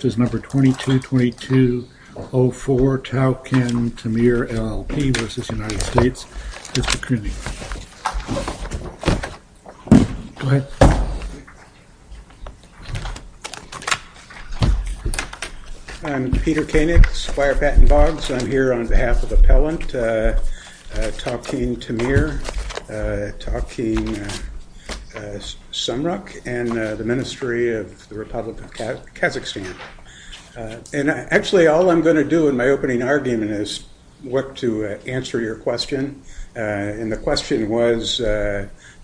Peter Koenigs, Firebat and Boggs. I'm here on behalf of Appellant Tau-Ken Temir, Tau-Ken Sumruk and the Ministry of the Republic of Kazakhstan and actually all I'm going to do in my opening argument is what to answer your question and the question was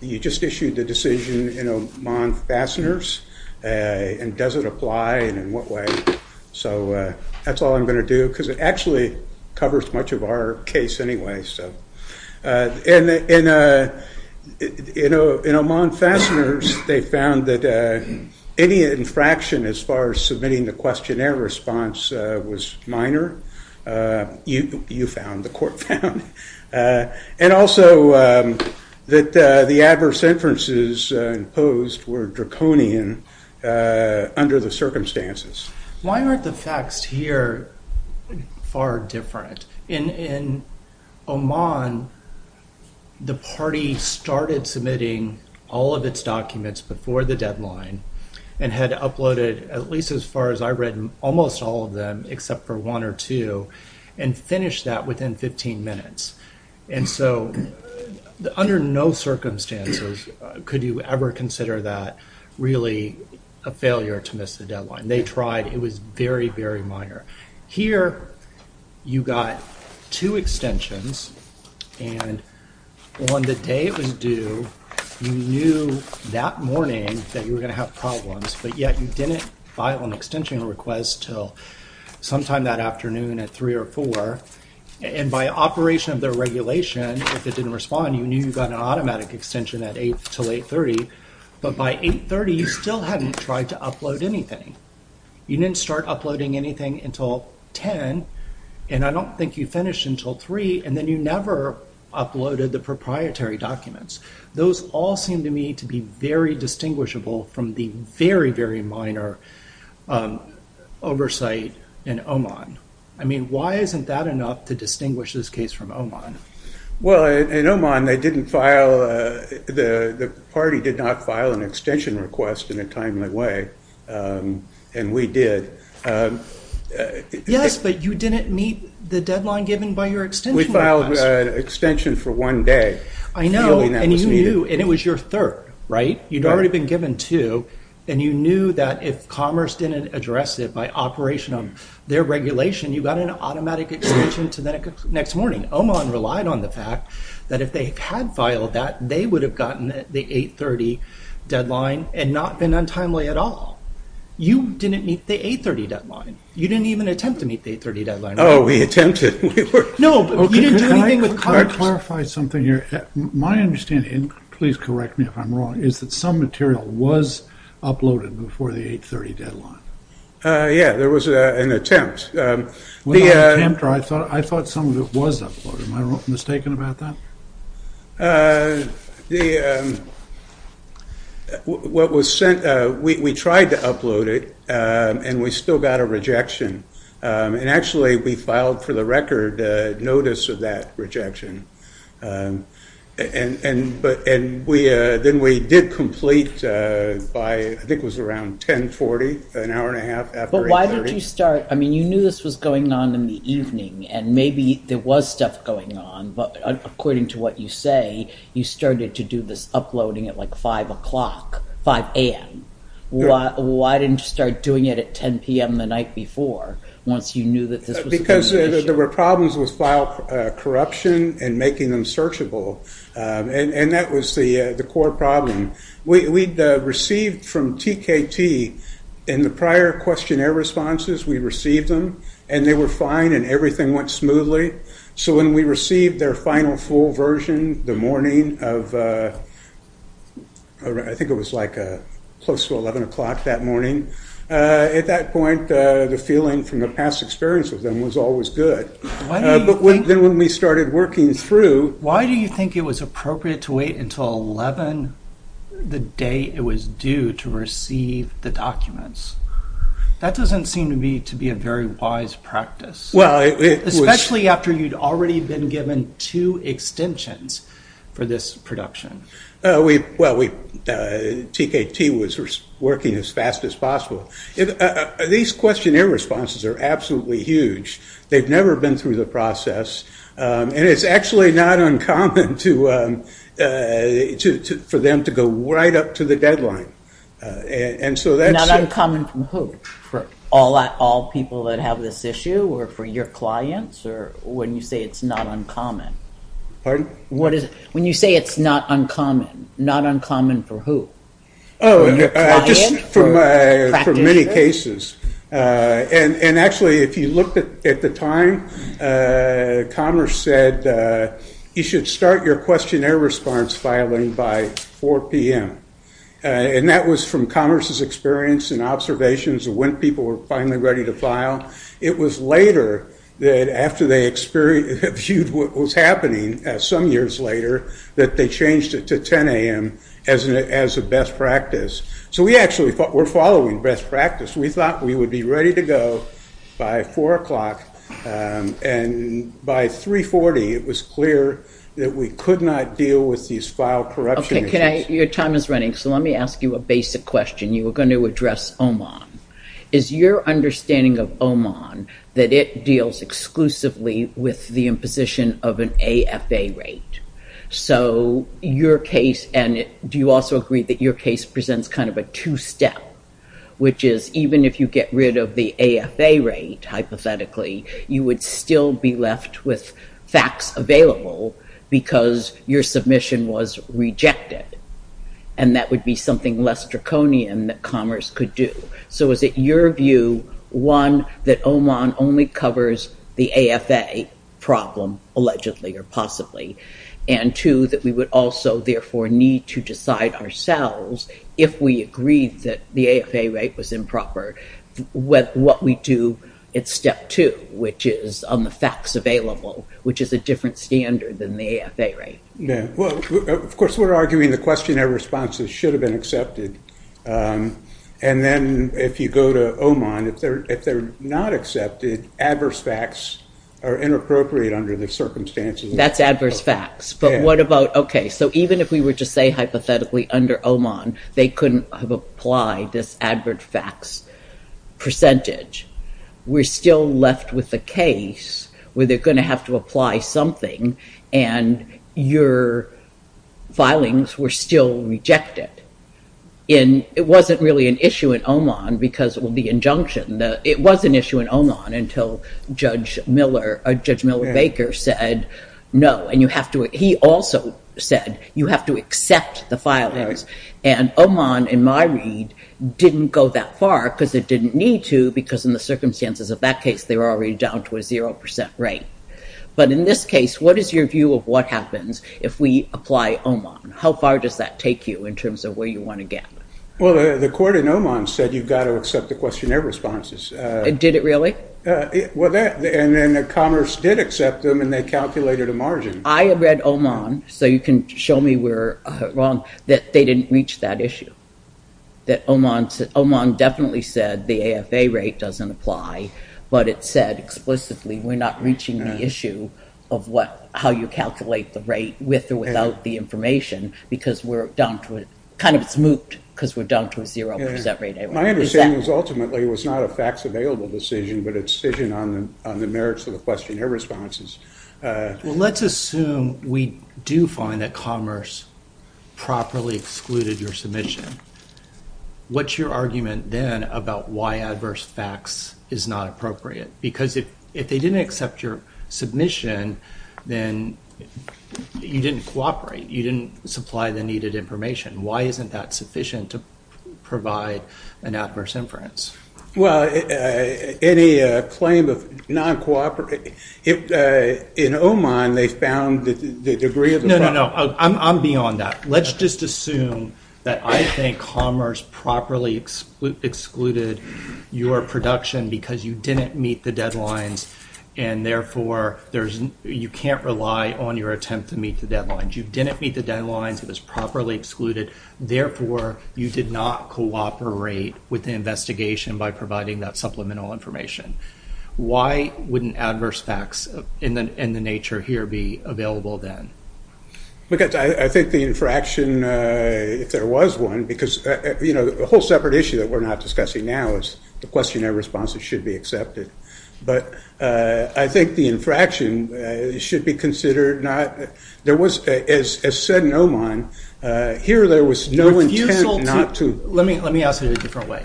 you just issued the decision in Oman fasteners and does it apply and in what way so that's all I'm going to do because it actually covers much of our case anyway. In Oman fasteners they found that any infraction as far as submitting the questionnaire response was minor. You found, the court found. And also that the adverse inferences imposed were draconian under the circumstances. Why aren't the facts here far different? In Oman the party started submitting all of its documents before the deadline and had uploaded at least as far as I read almost all of them except for one or two and finish that within 15 minutes and so under no circumstances could you ever consider that really a failure to miss the deadline. They tried it was very very minor. Here you got two extensions and on the day it was due you knew that morning that you were going to have problems but yet you didn't file an extension request till sometime that afternoon at 3 or 4 and by operation of their regulation if it didn't respond you knew you got an automatic extension at 8 till 830 but by 830 you still hadn't tried to upload anything. You didn't start uploading anything until 10 and I don't think you finished until 3 and then you never uploaded the proprietary documents. Those all seem to me to be very distinguishable from the very very minor oversight in Oman. I mean why isn't that enough to distinguish this case from Oman? Well in Oman they didn't file, the party did not file an extension request in a timely way and we did. Yes but you didn't meet the deadline given by your extension request. We filed an extension for one day. I know and you knew and it was your third, right? You'd already been given two and you knew that if Commerce didn't address it by operation of their regulation you got an automatic extension to the next morning. Oman relied on the fact that if they had filed that they would have gotten the 830 deadline and not been untimely at all. You didn't meet the 830 deadline. You didn't even attempt to meet the 830 deadline. Oh we attempted. No but you didn't do anything with Commerce. Can I clarify something here? My understanding, please correct me if I'm wrong, is that some material was uploaded before the 830 deadline. Yeah there was an attempt. I thought some of it was uploaded, am I mistaken about that? What was sent, we tried to upload it and we still got a rejection and actually we filed for the record notice of that rejection and then we did complete by, I think it was around 1040, an hour and a half after 830. But why did you start, I mean you knew this was going on in the evening and maybe there was stuff going on but according to what you say you started to do this uploading at like 5 o'clock, 5 a.m. Why didn't you start doing it at 10 p.m. the night before once you knew that this was. Because there were problems with file corruption and making them searchable and that was the the core problem. We'd received from TKT in the prior questionnaire responses, we received them and they were fine and everything went smoothly. So when we received their final full version the morning of, I think it was like a close to 11 o'clock that morning, at that point the feeling from the past experience with them was always good. But then when we started working through. Why do you think it was appropriate to wait until 11 the day it was due to receive the documents? That doesn't seem to be to be a very wise practice. Well it was. Especially after you'd already been given two extensions for this production. Well we, TKT was working as fast as possible. These questionnaire responses are absolutely huge. They've actually not uncommon for them to go right up to the deadline. And so that's. Not uncommon for who? For all people that have this issue or for your clients or when you say it's not uncommon? Pardon? What is, when you say it's not uncommon, not uncommon for who? Oh just for many cases. And actually if you looked at the time, Commerce said you should start your questionnaire response filing by 4 p.m. And that was from Commerce's experience and observations of when people were finally ready to file. It was later that after they experienced, viewed what was happening some years later, that they changed it to 10 a.m. as a best practice. So we actually thought we're in best practice. We thought we would be ready to go by 4 o'clock and by 340 it was clear that we could not deal with these file corruption issues. Okay can I, your time is running, so let me ask you a basic question. You were going to address OMON. Is your understanding of OMON that it deals exclusively with the imposition of an AFA rate? So your case, and do you also agree that your case presents kind of a two-step, which is even if you get rid of the AFA rate, hypothetically, you would still be left with facts available because your submission was rejected and that would be something less draconian that Commerce could do. So is it your view, one, that OMON only covers the AFA problem, allegedly or possibly, and two, that we would also therefore need to decide ourselves, if we agreed that the AFA rate was improper, what we do at step two, which is on the facts available, which is a different standard than the AFA rate. Of course we're arguing the questionnaire responses should have been accepted and then if you go to OMON, if they're not accepted, adverse facts are inappropriate under the circumstances. That's adverse facts, but what about, okay, so even if we were to say hypothetically under OMON they couldn't have applied this advert facts percentage, we're still left with the case where they're going to have to apply something and your filings were still rejected. It wasn't really an issue in OMON because of the injunction. It was an issue in OMON until Judge Miller Baker said no and you have to, he also said you have to accept the filings and OMON, in my read, didn't go that far because it didn't need to because in the circumstances of that case they were already down to a zero percent rate. But in this case, what is your view of what happens if we apply OMON? How far does that take you in terms of where you want to get? Well the court in OMON said you've got to accept the questionnaire responses. Did it really? Well that, and then Commerce did accept them and they calculated a margin. I have read OMON, so you can show me where wrong, that they didn't reach that issue. That OMON said, OMON definitely said the AFA rate doesn't apply, but it said explicitly we're not reaching the issue of what, how you calculate the rate with or without the information because we're down to a, kind of it's mooped because we're down to a zero percent rate. My understanding is ultimately it was not a facts available decision, but a decision on the merits of the questionnaire responses. Well let's assume we do find that Commerce properly excluded your submission. What's your argument then about why adverse facts is not appropriate? Because if they didn't accept your submission, then you didn't cooperate. You didn't supply the needed information. Why isn't that sufficient to provide an adverse inference? Well, any claim of non-cooperative, in OMON they found the degree of the problem. No, no, no, I'm beyond that. Let's just assume that I think Commerce properly excluded your production because you didn't meet the deadlines and therefore there's, you can't rely on your attempt to meet the deadlines. You didn't meet the deadlines, it was properly excluded, therefore you did not cooperate with the investigation by providing that supplemental information. Why wouldn't adverse facts in the nature here be available then? Because I think the infraction, if there was one, because you know the whole separate issue that we're not discussing now is the questionnaire responses should be accepted, but I think the infraction should be considered not, there was, as said in OMON, here there was no intent not to. Let me ask it a different way.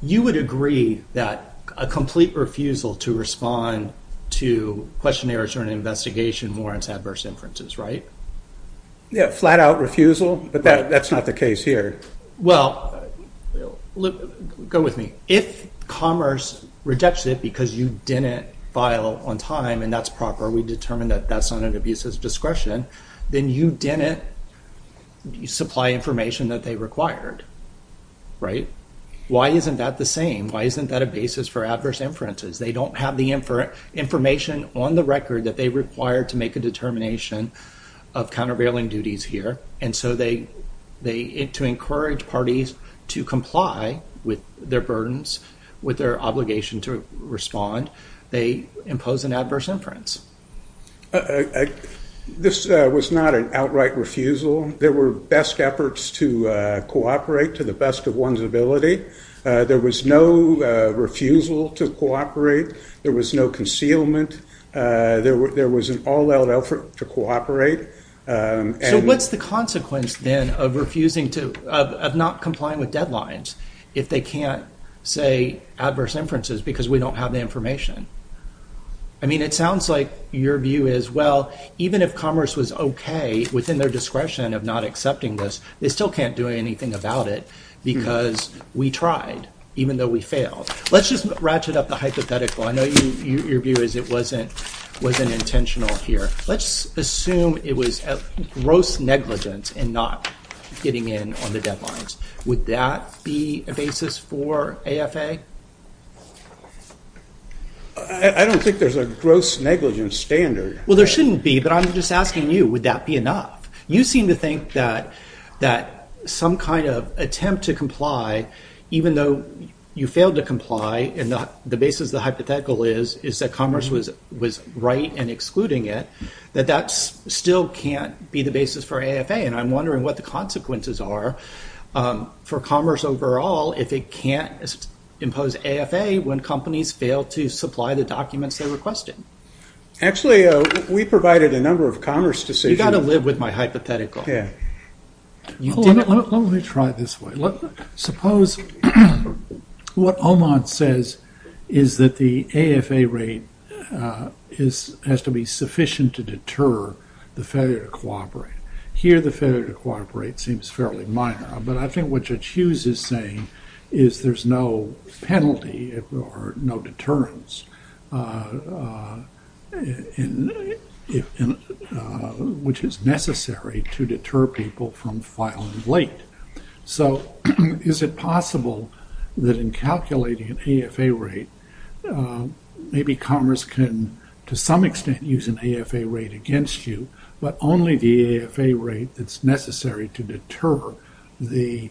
You would agree that a complete refusal to respond to questionnaires or an investigation warrants adverse inferences, right? Yeah, flat-out refusal, but that's not the case here. Well, go with me. If Commerce rejects it because you didn't file on time and that's proper, we determine that that's not an abuse of discretion, then you didn't supply information that they required, right? Why isn't that the same? Why isn't that a basis for adverse inferences? They don't have the information on the record that they required to make a determination of countervailing duties here and so they, they, to encourage parties to comply with their burdens, with their obligation to respond, they impose an adverse inference. This was not an outright refusal. There were best efforts to cooperate to the best of one's ability. There was no refusal to cooperate. There was no concealment. There was an all-out effort to cooperate. So what's the consequence then of refusing to, of not complying with deadlines if they can't say adverse inferences because we don't have the information? I mean it sounds like your view is, well, even if Commerce was okay within their discretion of not accepting this, they still can't do anything about it because we tried, even though we failed. Let's just ratchet up the hypothetical. I know you, your view is it wasn't, wasn't intentional here. Let's assume it was a gross negligence in not getting in on the deadlines. Would that be a basis for AFA? I don't think there's a gross negligence standard. Well, there shouldn't be, but I'm just asking you, would that be enough? You seem to think that, that some kind of attempt to comply, even though you failed to comply and the basis of the hypothetical is, is that Commerce was, was right in excluding it, that that's still can't be the basis for AFA and I'm wondering what the consequences are for Commerce overall if it can't impose AFA when companies fail to supply the documents they requested. Actually, we provided a number of Commerce decisions. You got to live with my hypothetical. Yeah. Let me try this way. Suppose what Oman says is that the AFA rate is, has to be sufficient to deter the failure to cooperate. Here the failure to cooperate seems fairly minor, but I think what Judge Hughes is saying is there's no penalty or no deterrence, which is necessary to deter people from filing late. So, is it possible that in calculating an AFA rate, maybe Commerce can, to some extent, use an AFA rate against you, but only the AFA rate that's necessary to deter the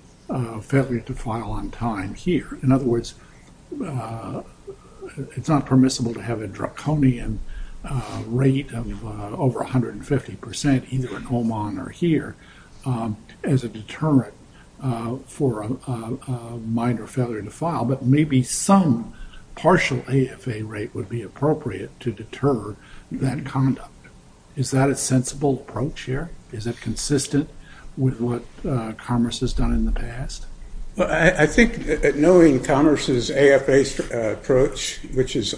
failure to file on time here. In other words, it's not permissible to have a draconian rate of over 150 percent, either in Oman or here, as a deterrent for a minor failure to file, but maybe some partial AFA rate would be appropriate to deter that conduct. Is that a sensible approach here? Is it consistent with what Commerce has done in the past? Well, I think knowing Commerce's AFA approach, which is,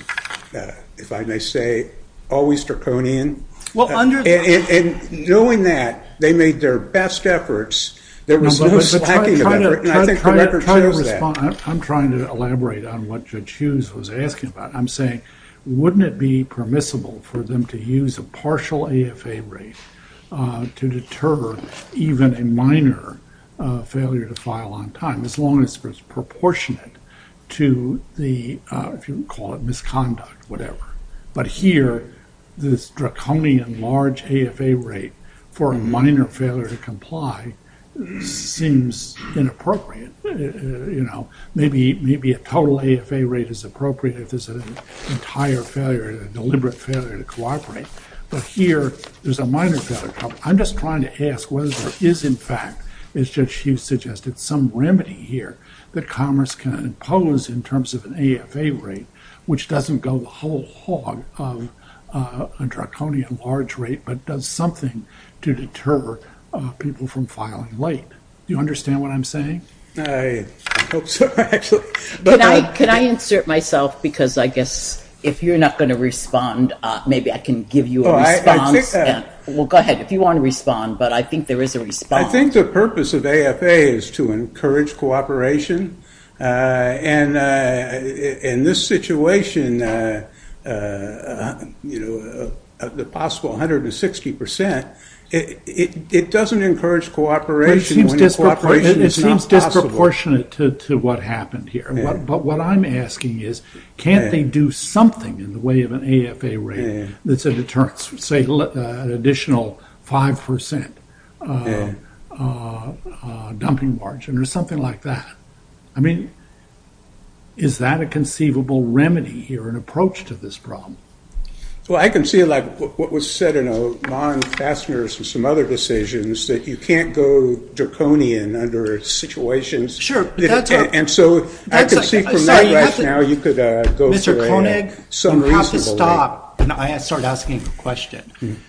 if I may say, always draconian, and knowing that, they made their best efforts, there was no slacking of effort, and I think the record shows that. I'm trying to elaborate on what Judge Hughes was asking about. I'm saying, wouldn't it be permissible for them to use a partial AFA rate to deter even a minor failure to file on time, as long as it's proportionate to the, if you call it misconduct, whatever. But here, this draconian large AFA rate for a minor failure to comply seems inappropriate. You know, maybe a total AFA rate is appropriate if there's an entire failure, a deliberate failure to cooperate, but here, there's a minor failure. I'm just trying to ask whether there is, in fact, as Judge Hughes suggested, some remedy here that Commerce can impose in terms of an AFA rate, which doesn't go the whole hog of a draconian large rate, but does something to deter people from filing late. Do you understand what I'm saying? I hope so, actually. Can I insert myself, because I guess if you're not going to respond, maybe I can give you a response. Well, go ahead, if you want to respond, but I think there is a response. I think the purpose of AFA is to encourage cooperation, and in this situation, you know, the possible 160 percent, it doesn't encourage cooperation. It seems disproportionate to what happened here, but what I'm asking is, can't they do something in the way of an AFA rate that's a deterrence, say, an additional 5 percent dumping margin, or something like that? I mean, is that a conceivable remedy here, an approach to this problem? Well, I can see, like, what was said in a lawn fasteners and some other decisions, that you can't go draconian under situations, and so I can see from my rationale, you could go for some reason to delay. Mr. Koenig, you'll have to stop. I started asking a question.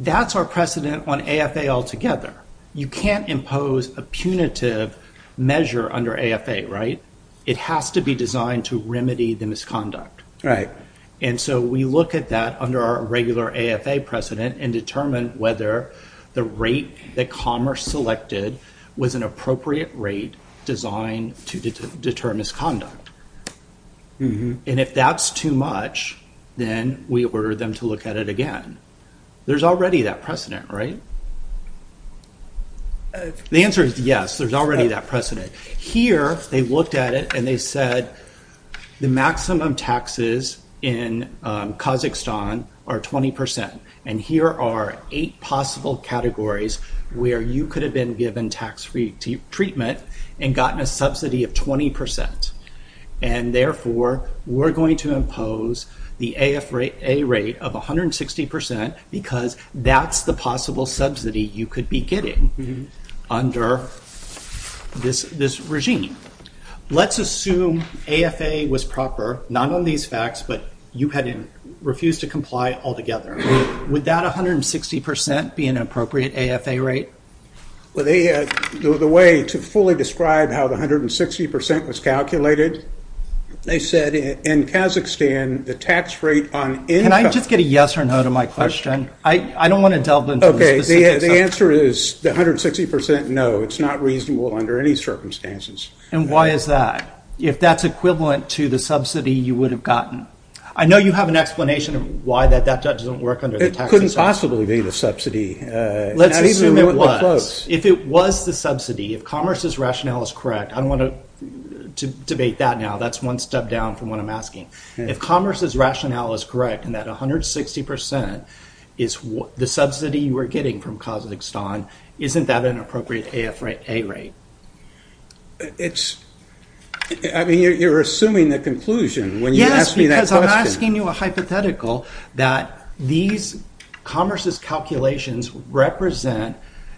That's our precedent on AFA altogether. You can't impose a punitive measure under AFA, right? It has to be designed to remedy the misconduct, and so we look at that under our regular AFA precedent, and determine whether the rate that Commerce selected was an appropriate rate designed to deter misconduct, and if that's too much, then we order them to look at it again. There's already that precedent, right? The answer is yes, there's already that precedent. Here, they looked at it, and they said, the maximum taxes in Kazakhstan are 20 percent, and here are eight possible categories where you could have been given tax-free treatment and gotten a subsidy of 20 percent, and therefore, we're going to impose the AFA rate of 160 percent, because that's the possible subsidy you could be getting under this regime. Let's assume AFA was proper, not on these facts, but you had refused to comply altogether. Would that 160 percent be an appropriate AFA rate? Well, the way to fully describe how the 160 percent was calculated, they said in Kazakhstan, the tax rate on income... Can I just get a yes or no to my question? I don't want to delve into the specifics. Okay, the answer is the 160 percent, no, it's not reasonable under any circumstances. And why is that? If that's equivalent to the subsidy you would have gotten. I know you have an explanation of why that doesn't work under the tax system. It couldn't possibly be the subsidy. Let's assume it was. If it was the subsidy, if Commerce's rationale is correct, I don't want to debate that now, that's one step down from what I'm asking. If Commerce's rationale is correct, and that 160 percent is the subsidy you are getting from Kazakhstan, isn't that an appropriate AFA rate? I mean, you're assuming the conclusion when you ask me that question. Yes, because I'm asking you a hypothetical that these Commerce's calculations represent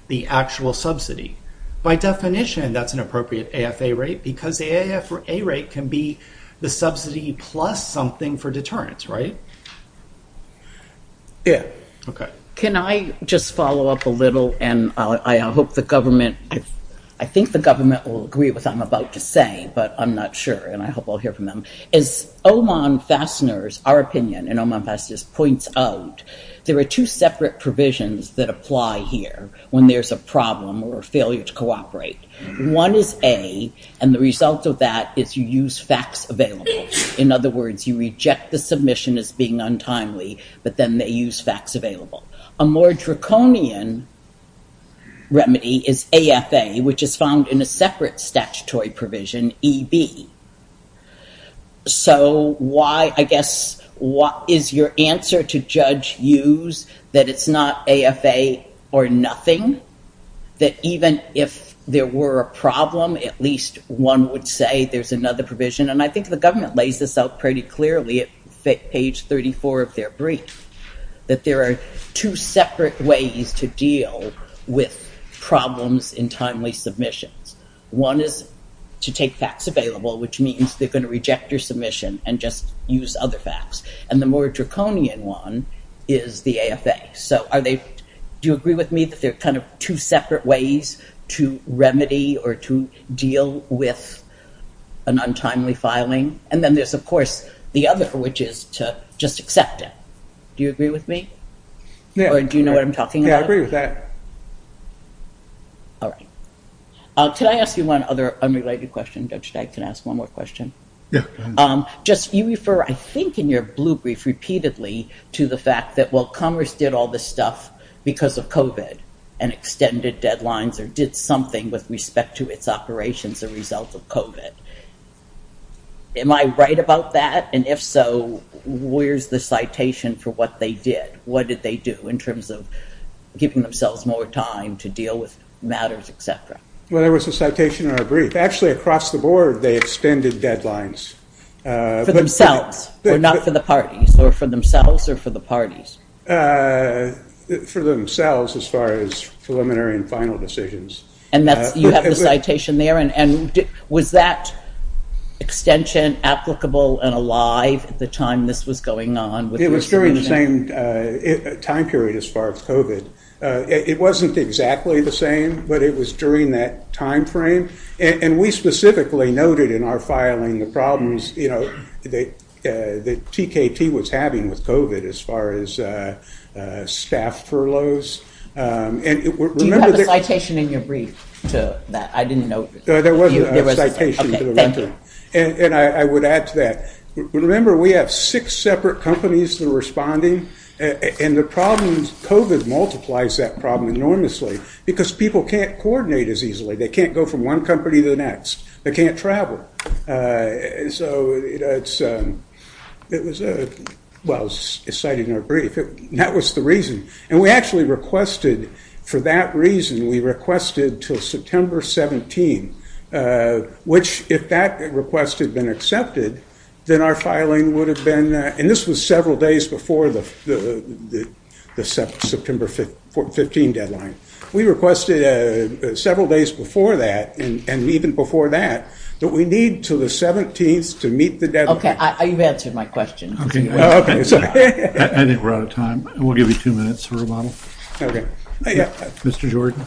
the actual subsidy. By definition, that's an appropriate AFA rate, because the AFA rate can be the subsidy plus something for insurance, right? Yeah, okay. Can I just follow up a little, and I hope the government, I think the government will agree with what I'm about to say, but I'm not sure, and I hope I'll hear from them. As Oman Fasteners, our opinion in Oman Fasteners points out, there are two separate provisions that apply here when there's a problem or a failure to cooperate. One is A, and the result of that is you use facts available. In other words, you reject the submission as being untimely, but then they use facts available. A more draconian remedy is AFA, which is found in a separate statutory provision, EB. So why, I guess, what is your answer to Judge Hughes that it's not AFA or nothing? That even if there were a problem, at least one would say there's another provision, and I think the government lays this out pretty clearly at page 34 of their brief, that there are two separate ways to deal with problems in timely submissions. One is to take facts available, which means they're going to reject your submission and just use other facts, and the more draconian one is the AFA. So are they, do you agree with me that they're kind of two separate ways to remedy or to deal with an untimely filing? And then there's, of course, the other, which is to just accept it. Do you agree with me? Yeah. Or do you know what I'm talking about? Yeah, I agree with that. All right. Can I ask you one other unrelated question, Judge? I can ask one more question. Yeah. Just, you refer, I think, in your blue brief repeatedly to the fact that, well, Congress did all this stuff because of COVID and extended deadlines or did something with respect to its operations a result of COVID. Am I right about that? And if so, where's the citation for what they did? What did they do in terms of giving themselves more time to deal with matters, etc.? Well, there was a citation in our brief. Actually, across the board, they extended deadlines. For themselves, but not for the parties, or for themselves or for the parties? For themselves as far as preliminary and final decisions. And that's, you have the citation there, and was that extension applicable and alive at the time this was going on? It was during the same time period as far as COVID. It wasn't exactly the same, but it was during that time frame, and we specifically noted in our filing the problems that TKT was having with COVID as far as staff furloughs. Do you have a citation in your brief to that? I didn't know. There was a citation to the rental. And I would add to that. Remember, we have six separate companies that are responding, and the problems, COVID multiplies that problem enormously, because people can't coordinate as easily. They can't go from one company to the next. They can't travel. So it was, well, it's cited in our brief. That was the reason. And we actually requested, for that reason, we requested till September 17, which, if that request had been accepted, then our filing would have been, and this was several days before the September 15 deadline. We requested several days before that, and even before that, that we need to the 17th to meet the deadline. Okay, you've answered my question. I think we're out of time. We'll give you two minutes for rebuttal. Okay. Mr. Jordan.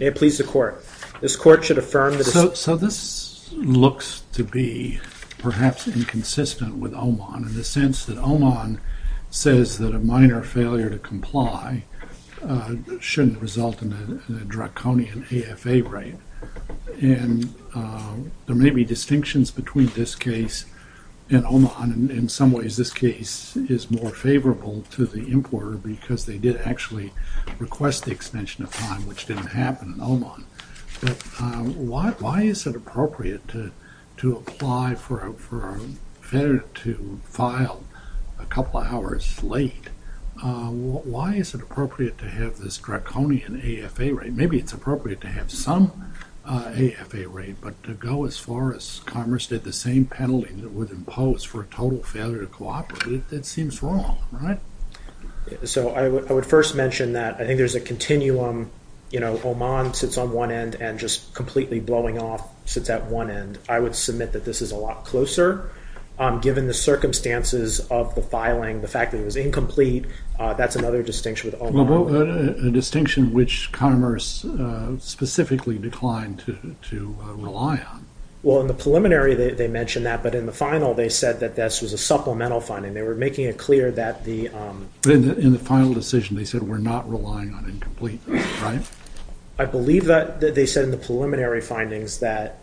May it please the court. This court should affirm that... So this looks to be perhaps inconsistent with OMON in the sense that OMON says that a minor failure to comply shouldn't result in a draconian AFA rate, and there may be distinctions between this case and OMON. In some ways, this case is more favorable to the importer because they did actually request the extension of time, which didn't happen in OMON, but why is it appropriate to apply for a failure to file a couple of hours late? Why is it appropriate to have this draconian AFA rate? Maybe it's appropriate to have some AFA rate, but to go as far as Commerce did the same penalty that would impose for a total failure to cooperate, that seems wrong, right? So I would first mention that I think there's a continuum, you know, OMON sits on one end and just completely blowing off sits at one end. I would submit that this is a lot closer, given the circumstances of the filing, the fact that it was incomplete, that's another distinction with OMON. A distinction which Commerce specifically declined to rely on. Well, in the preliminary they mentioned that, but in the final they said that this was a supplemental finding. They were making it clear that the... In the final decision they said we're not relying on incompleteness, right? I believe that they said in the preliminary findings that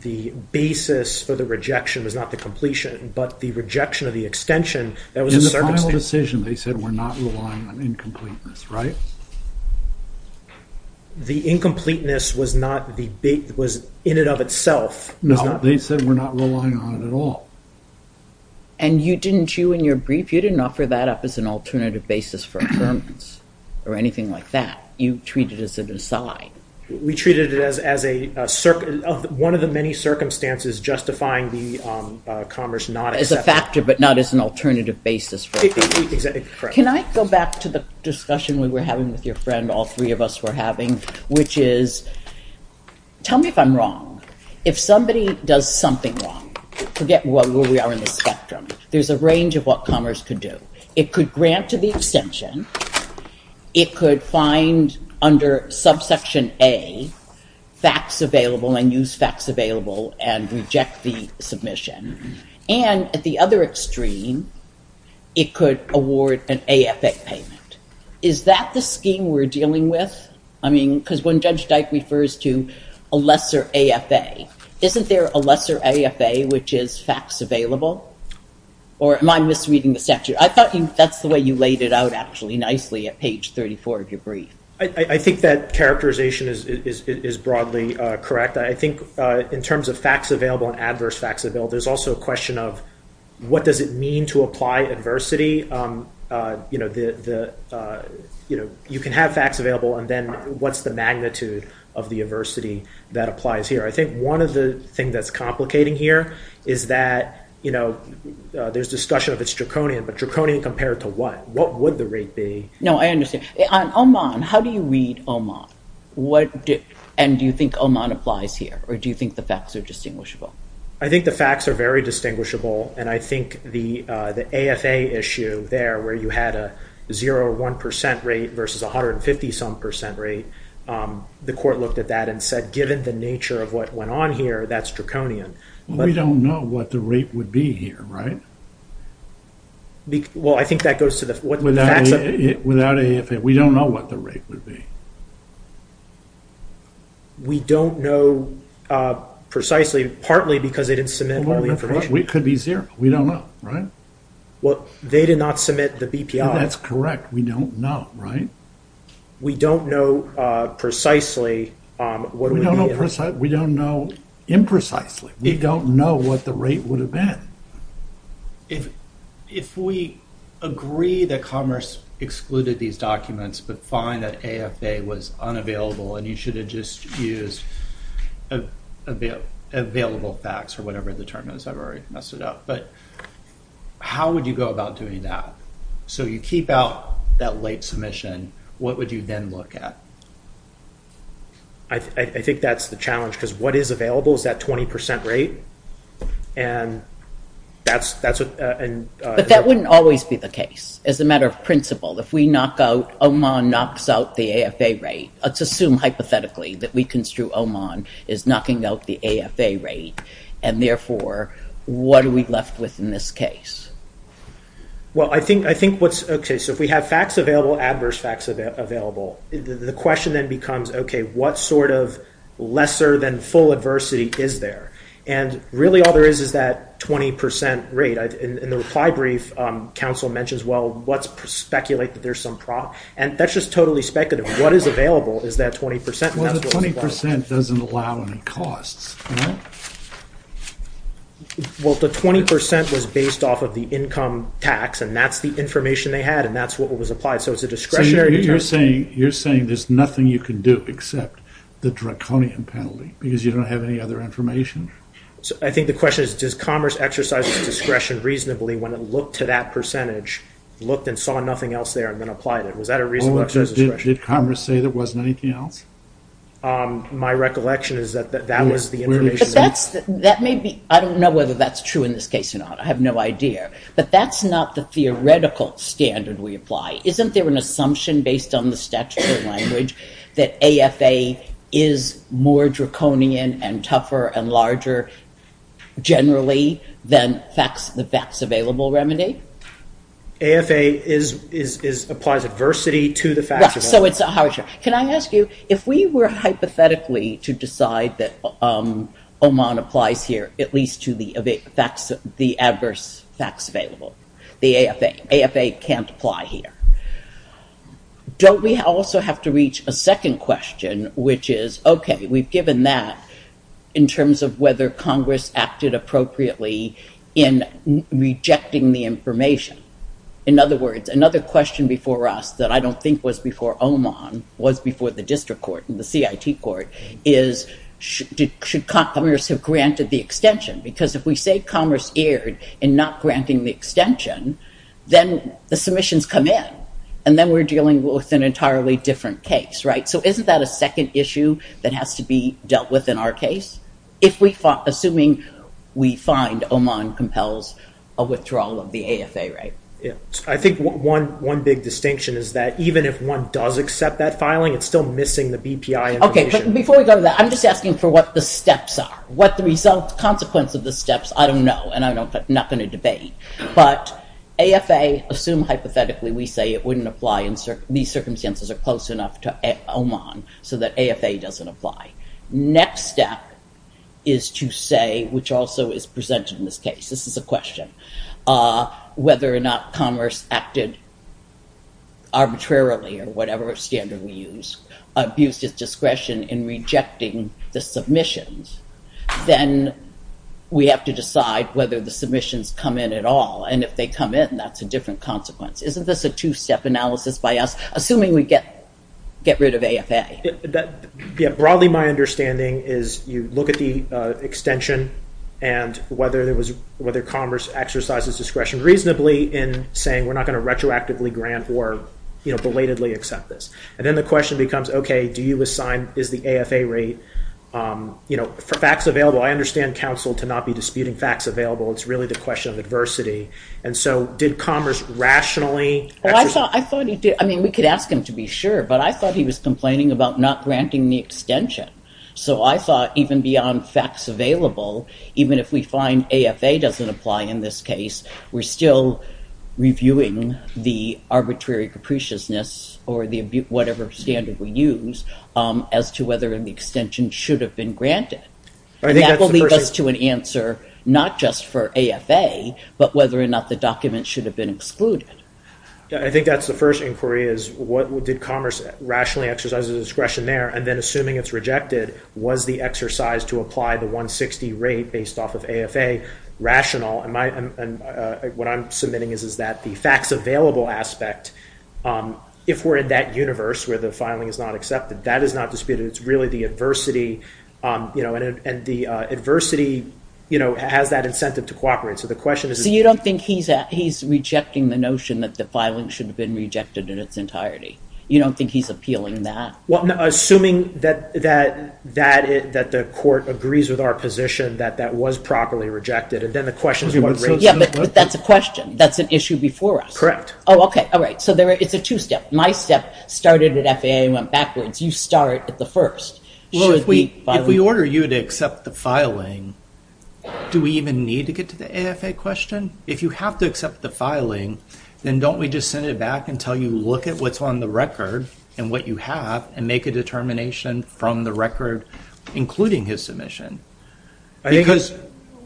the basis for the rejection was not the completion, but the rejection of the extension that was a circumstance... In the final decision they said we're not relying on incompleteness, right? The incompleteness was not the... was in and of itself... No, they said we're not relying on it at all. And you didn't, you in your brief, you didn't offer that up as an alternative basis for affirmance or anything like that. You treated it as a decide. We treated it as a... one of the many circumstances justifying the Commerce not accepting... As a factor, but not as an alternative basis for affirmance. Can I go back to the discussion we were having with your friend, all three of us were having, which is, tell me if I'm wrong. If somebody does something wrong, forget where we are in the spectrum. There's a range of what Commerce could do. It could grant to the extension. It could find under subsection A facts available and use facts available and reject the submission. And at the other extreme, it could award an AFA payment. Is that the scheme we're dealing with? I mean, because when Judge Dyke refers to a lesser AFA, isn't there a lesser AFA which is facts available? Or am I misreading the statute? I thought that's the way you laid it out actually nicely at page 34 of your brief. I think that characterization is broadly correct. I think in terms of facts available and adverse facts available, there's also a question of what does it mean to apply adversity? You can have facts available and then what's the magnitude of the adversity that applies here? I think one of the things that's complicating here is that there's discussion of it's draconian, but draconian compared to what? What would the rate be? No, I understand. On Oman, how do you read Oman? And do you think Oman applies here? Or do you think the facts are distinguishable? I think the facts are very distinguishable. And I think the AFA issue there where you had a 0 or 1% rate versus 150 some percent rate, the court looked at that and said, given the nature of what went on here, that's draconian. We don't know what the rate would be here, right? Well, I think that goes to the... Without AFA, we don't know what the rate would be. We don't know precisely, partly because they didn't submit all the information. It could be 0. We don't know, right? Well, they did not submit the BPI. That's correct. We don't know, right? We don't know precisely what it would be. We don't know imprecisely. We don't know what the rate would have been. If we agree that Commerce excluded these documents but find that AFA was unavailable and you should have just used available facts or whatever the term is, I've already messed it up. But how would you go about doing that? So you keep out that late submission. What would you then look at? I think that's the challenge because what is available is that 20% rate. But that wouldn't always be the case as a matter of principle. If we knock out, OMON knocks out the AFA rate, let's assume hypothetically that we construe OMON is knocking out the AFA rate and therefore what are we left with in this case? Well, I think what's... Okay, so if we have facts available, adverse facts available, the question then becomes, okay, what sort of lesser than full adversity is there? And really all there is is that 20% rate. In the reply brief, counsel mentions, well, let's speculate that there's some problem. And that's just totally speculative. What is available is that 20%. Well, the 20% doesn't allow any costs. Well, the 20% was based off of the income tax and that's the information they had and that's what was applied. So it's a discretionary... You're saying there's nothing you can do except the draconian penalty because you don't have any other information? I think the question is, does Commerce exercise its discretion reasonably when it looked to that percentage, looked and saw nothing else there and then applied it? Was that a reasonable exercise of discretion? Did Commerce say there wasn't anything else? My recollection is that that was the information... But that may be... I don't know whether that's true in this case or not. I have no idea. But that's not the theoretical standard we apply. Isn't there an assumption based on the statute of language that AFA is more draconian and tougher and larger generally than the facts available remedy? AFA applies adversity to the facts available. So it's a harsher... Can I ask you, if we were hypothetically to decide that OMON applies here, at least to the adverse facts available, the AFA can't apply here? Don't we also have to reach a second question, which is, okay, we've given that in terms of whether Congress acted appropriately in rejecting the information? In other words, another question before us that I don't think was before OMON was before the district court and the CIT court is, should Commerce have granted the extension? Because if we say Commerce erred in not granting the extension, then the submissions come in, and then we're dealing with an entirely different case, right? So isn't that a second issue that has to be dealt with in our case? Assuming we find OMON compels a withdrawal of the AFA, right? I think one big distinction is that even if one does accept that filing, it's still missing the BPI information. Okay, but before we go to that, I'm just asking for what the steps are. What the consequence of the steps, I don't know, and I'm not going to debate. But AFA, assume hypothetically we say it wouldn't apply and these circumstances are close enough to OMON so that AFA doesn't apply. Next step is to say, which also is presented in this case, this is a question, whether or not Commerce acted arbitrarily or whatever standard we use, abused its discretion in rejecting the submissions. Then we have to decide whether the submissions come in at all. And if they come in, that's a different consequence. Isn't this a two-step analysis by us, assuming we get rid of AFA? Yeah, broadly my understanding is you look at the extension and whether Commerce exercises discretion reasonably in saying we're not going to retroactively grant or belatedly accept this. And then the question becomes, okay, do you assign, is the AFA rate, you know, for facts available, I understand counsel to not be disputing facts available. It's really the question of adversity. And so did Commerce rationally exercise? I thought he did. I mean, we could ask him to be sure, but I thought he was complaining about not granting the extension. So I thought even beyond facts available, even if we find AFA doesn't apply in this case, we're still reviewing the arbitrary capriciousness or the whatever standard we use as to whether the extension should have been granted. And that will lead us to an answer, not just for AFA, but whether or not the document should have been excluded. I think that's the first inquiry is what did Commerce rationally exercise discretion there? And then assuming it's rejected, was the exercise to apply the 160 rate based off of AFA rational? And what I'm submitting is, is that the facts available aspect, if we're in that universe where the filing is not accepted, that is not disputed. It's really the adversity, you know, and the adversity, you know, has that incentive to cooperate. So the question is... So you don't think he's rejecting the notion that the filing should have been rejected in its entirety? You don't think he's appealing that? Well, no, assuming that the court agrees with our position that that was properly rejected. And then the question is what rate... Yeah, but that's a question. That's an issue before us. Correct. Oh, okay. All right. So it's a two-step. My step started at FAA and went backwards. You start at the first. Well, if we order you to accept the filing, do we even need to get to the AFA question? If you have to accept the filing, then don't we just send it back until you look at what's on the record and what you have and make a determination from the record including his submission? Because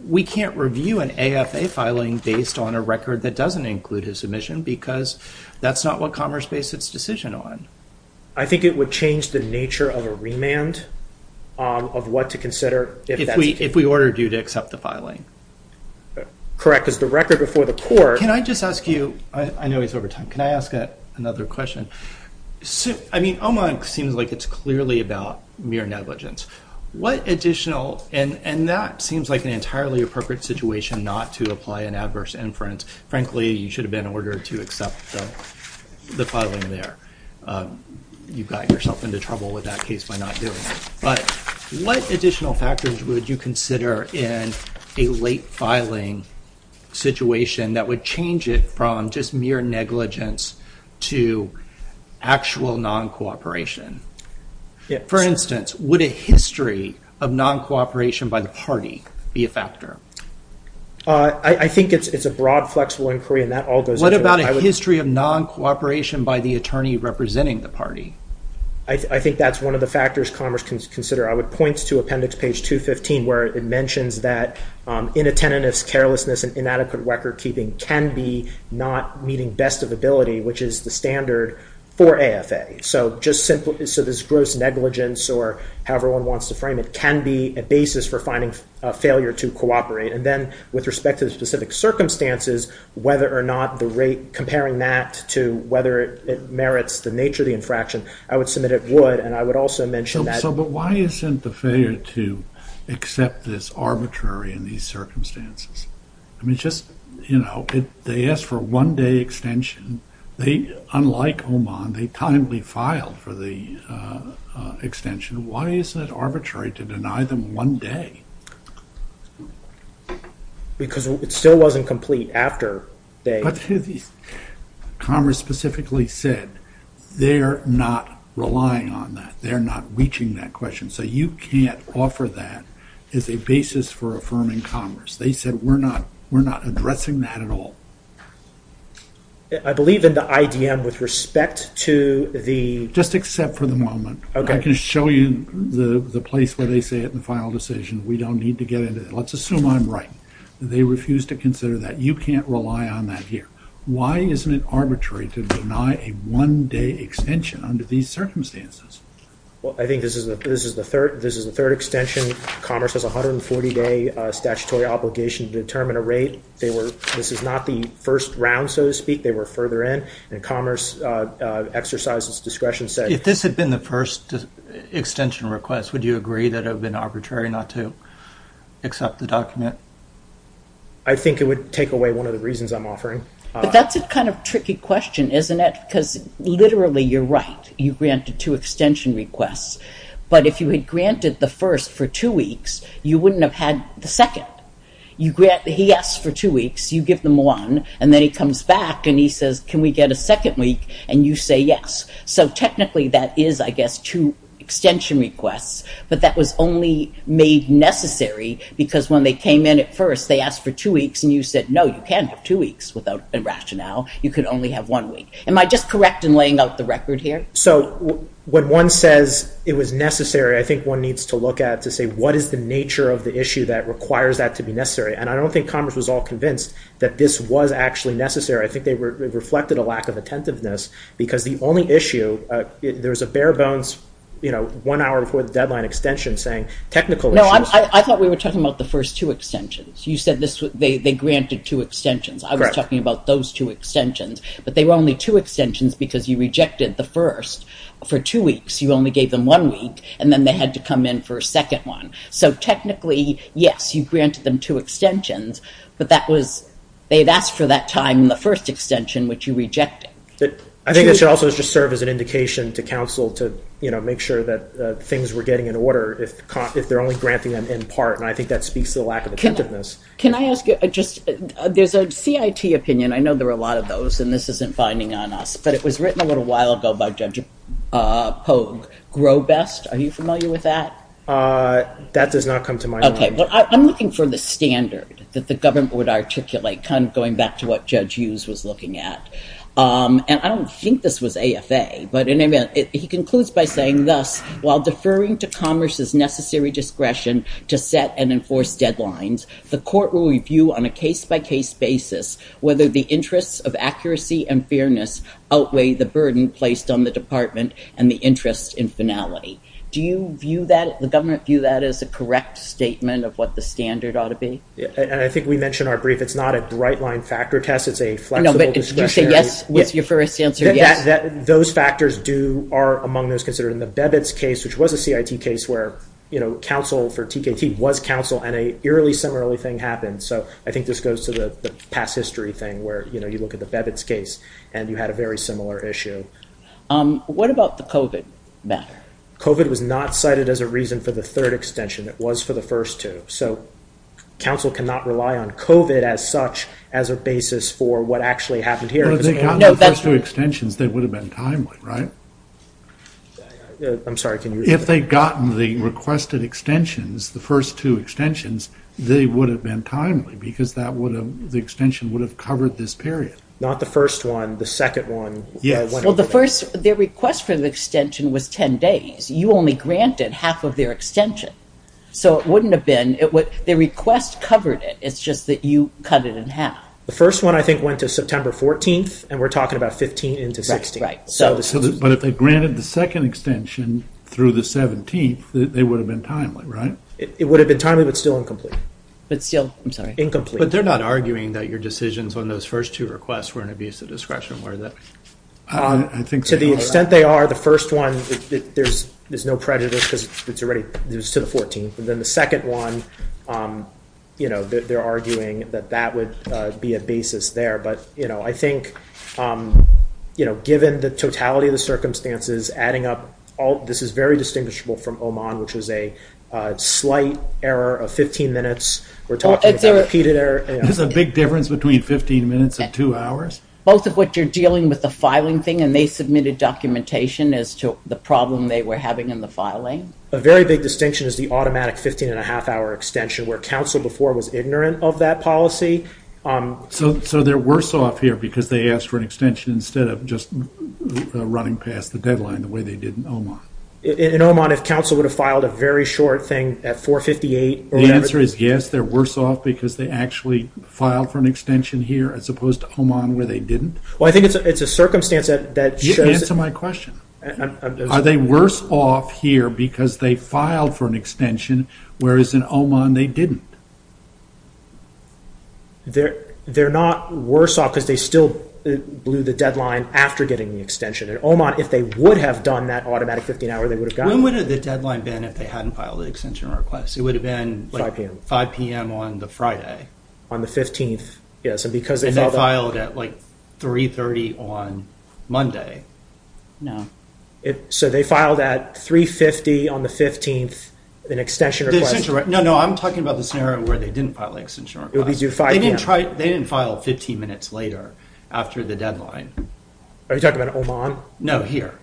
we can't review an AFA filing based on a record that doesn't include his submission because that's not what Commerce based its decision on. I think it would change the nature of a remand of what to consider if that's... If we ordered you to accept the filing. Correct. Because the record before the court... Can I just ask you, I know he's over time, can I ask another question? I mean, OMON seems like it's clearly about mere negligence. What additional... And that seems like an entirely appropriate situation not to apply an adverse inference. Frankly, you should have been ordered to accept the filing there. You've got yourself into trouble with that case by not doing it. But what additional factors would you consider in a late filing situation that would change it from just mere negligence to actual non-cooperation? For instance, would a history of non-cooperation by the party be a factor? I think it's a broad, flexible inquiry and that all goes into... A history of non-cooperation by the attorney representing the party. I think that's one of the factors Commerce can consider. I would point to appendix page 215 where it mentions that inattentiveness, carelessness, and inadequate record keeping can be not meeting best of ability, which is the standard for AFA. So just simply... So this gross negligence or however one wants to frame it can be a basis for finding a failure to cooperate. And then with respect to the specific circumstances, whether or not the rate comparing that to whether it merits the nature of the infraction, I would submit it would. And I would also mention that... So, but why isn't the failure to accept this arbitrary in these circumstances? I mean, just, you know, they asked for a one day extension. They, unlike Oman, they timely filed for the extension. Why is it arbitrary to deny them one day? Because it still wasn't complete after they... But Commerce specifically said they're not relying on that. They're not reaching that question. So you can't offer that as a basis for affirming Commerce. They said we're not addressing that at all. I believe in the IDM with respect to the... Just accept for the moment. Okay. I can show you the place where they say it in the final decision. We don't need to get into it. Let's assume I'm right. They refuse to consider that. You can't rely on that here. Why isn't it arbitrary to deny a one day extension under these circumstances? Well, I think this is the third extension. Commerce has 140 day statutory obligation to determine a rate. They were... This is not the first round, so to speak. They were further in. And Commerce exercised its discretion, said... If this had been the first extension request, would you agree that it would have been arbitrary not to accept the document? I think it would take away one of the reasons I'm offering. But that's a kind of tricky question, isn't it? Because literally, you're right. You granted two extension requests. But if you had granted the first for two weeks, you wouldn't have had the second. You grant... He asks for two weeks. You give them one. And then he comes back and he says, can we get a second week? And you say yes. So technically, that is, I guess, two extension requests. But that was only made necessary because when they came in at first, they asked for two weeks. And you said, no, you can't have two weeks without a rationale. You could only have one week. Am I just correct in laying out the record here? So when one says it was necessary, I think one needs to look at to say, what is the nature of the issue that requires that to be necessary? And I don't think Commerce was all convinced that this was actually necessary. I think they reflected a lack of attentiveness because the only issue, there was a bare bones, one hour before the deadline extension saying technical issues. No, I thought we were talking about the first two extensions. You said they granted two extensions. I was talking about those two extensions. But they were only two extensions because you rejected the first for two weeks. You only gave them one week. And then they had to come in for a second one. So technically, yes, you granted them two extensions. But they had asked for that time in the first extension, which you rejected. I think that should also just serve as an indication to counsel to make sure that things were getting in order if they're only granting them in part. And I think that speaks to the lack of attentiveness. Can I ask you, there's a CIT opinion. I know there are a lot of those. And this isn't binding on us. But it was written a little while ago by Judge Pogue. Grow Best, are you familiar with that? That does not come to mind. OK, well, I'm looking for the standard that the government would articulate, kind of going back to what Judge Hughes was looking at. And I don't think this was AFA. But he concludes by saying, thus, while deferring to commerce's necessary discretion to set and enforce deadlines, the court will review on a case-by-case basis whether the interests of accuracy and fairness outweigh the burden placed on the department and the interest in finality. Do you view that, the government view that as a correct statement of what the standard ought to be? And I think we mentioned our brief. It's not a bright line factor test. It's a flexible discretionary. No, but you say yes with your first answer, yes. Those factors are among those considered. In the Bebit's case, which was a CIT case, where counsel for TKT was counsel and an eerily similar thing happened. So I think this goes to the past history thing where you look at the Bebit's case and you had a very similar issue. What about the COVID matter? COVID was not cited as a reason for the third extension. It was for the first two. So counsel cannot rely on COVID as such as a basis for what actually happened here. If they got the first two extensions, they would have been timely, right? I'm sorry, can you repeat? If they'd gotten the requested extensions, the first two extensions, they would have been timely because that would have, the extension would have covered this period. Not the first one, the second one. Yes. Well, the first, their request for the extension was 10 days. You only granted half of their extension. So it wouldn't have been, the request covered it. It's just that you cut it in half. The first one, I think, went to September 14th, and we're talking about 15 into 16. But if they granted the second extension through the 17th, they would have been timely, right? It would have been timely, but still incomplete. But still, I'm sorry. But they're not arguing that your decisions on those first two requests were an abuse of discretion, were they? To the extent they are, the first one, there's no prejudice because it's already, it was to the 14th. But then the second one, they're arguing that that would be a basis there. But I think, given the totality of the circumstances, adding up all, this is very distinguishable from Oman, which was a slight error of 15 minutes. We're talking about repeated error. There's a big difference between 15 minutes and two hours. Both of which are dealing with the filing thing, and they submitted documentation as to the problem they were having in the filing. A very big distinction is the automatic 15 and a half hour extension, where counsel before was ignorant of that policy. So they're worse off here because they asked for an extension instead of just running past the deadline the way they did in Oman? In Oman, if counsel would have filed a very short thing at 4.58 or whatever. The answer is yes, they're worse off because they actually filed for an extension here as opposed to Oman where they didn't? Well, I think it's a circumstance that shows... Answer my question. Are they worse off here because they filed for an extension, whereas in Oman they didn't? They're not worse off because they still blew the deadline after getting the extension. In Oman, if they would have done that automatic 15 hour, they would have gotten it. When would have the deadline been if they hadn't filed the extension request? It would have been... 5 p.m. 5 p.m. on the Friday. On the 15th, yes. And they filed at like 3.30 on Monday. No. So they filed at 3.50 on the 15th, an extension request. No, no, I'm talking about the scenario where they didn't file the extension request. It would be due 5 p.m. They didn't file 15 minutes later after the deadline. Are you talking about Oman? No, here.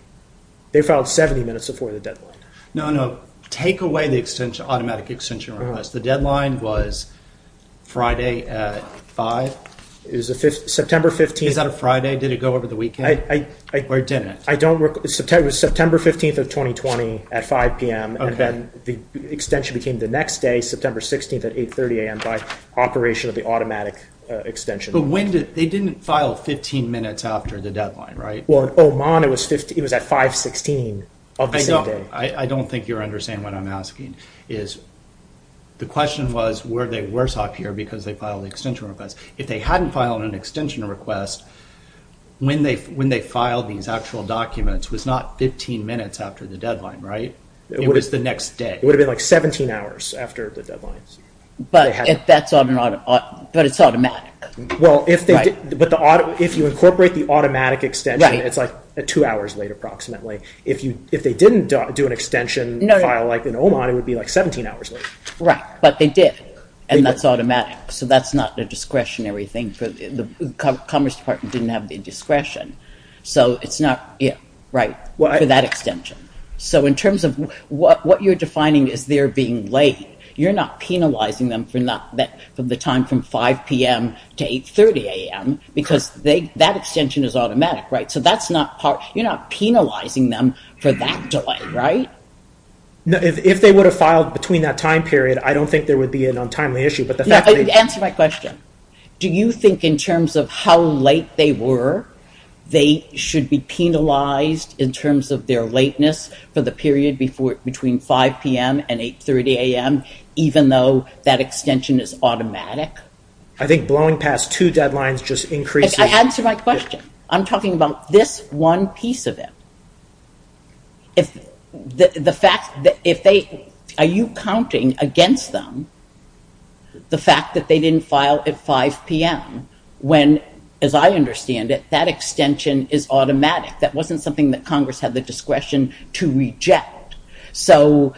They filed 70 minutes before the deadline. No, no, take away the automatic extension request. The deadline was Friday at 5. It was September 15th. Is that a Friday? Did it go over the weekend? Or it didn't? I don't... It was September 15th of 2020 at 5 p.m. And then the extension became the next day, September 16th at 8.30 a.m. by operation of the automatic extension. But when did... They didn't file 15 minutes after the deadline, right? Well, in Oman, it was at 5.16 of the same day. I don't think you're understanding what I'm asking. The question was, were they worse off here because they filed the extension request? If they hadn't filed an extension request, when they filed these actual documents was not 15 minutes after the deadline, right? It was the next day. It would have been like 17 hours after the deadlines. But it's automatic. Well, if you incorporate the automatic extension, it's like two hours late approximately. If they didn't do an extension file like in Oman, it would be like 17 hours late. Right, but they did. And that's automatic. So that's not a discretionary thing. Commerce Department didn't have the discretion for that extension. So in terms of what you're defining as they're being late, you're not penalizing them for the time from 5 p.m. to 8.30 a.m. because that extension is automatic, right? So you're not penalizing them for that delay, right? If they would have filed between that time period, I don't think there would be an untimely issue. Answer my question. Do you think in terms of how late they were, they should be penalized in terms of their lateness for the period between 5 p.m. and 8.30 a.m. even though that extension is automatic? I think blowing past two deadlines just increases... Answer my question. I'm talking about this one piece of it. Are you counting against them the fact that they didn't file at 5 p.m. when, as I understand it, that extension is automatic? That wasn't something that Congress had the discretion to reject. So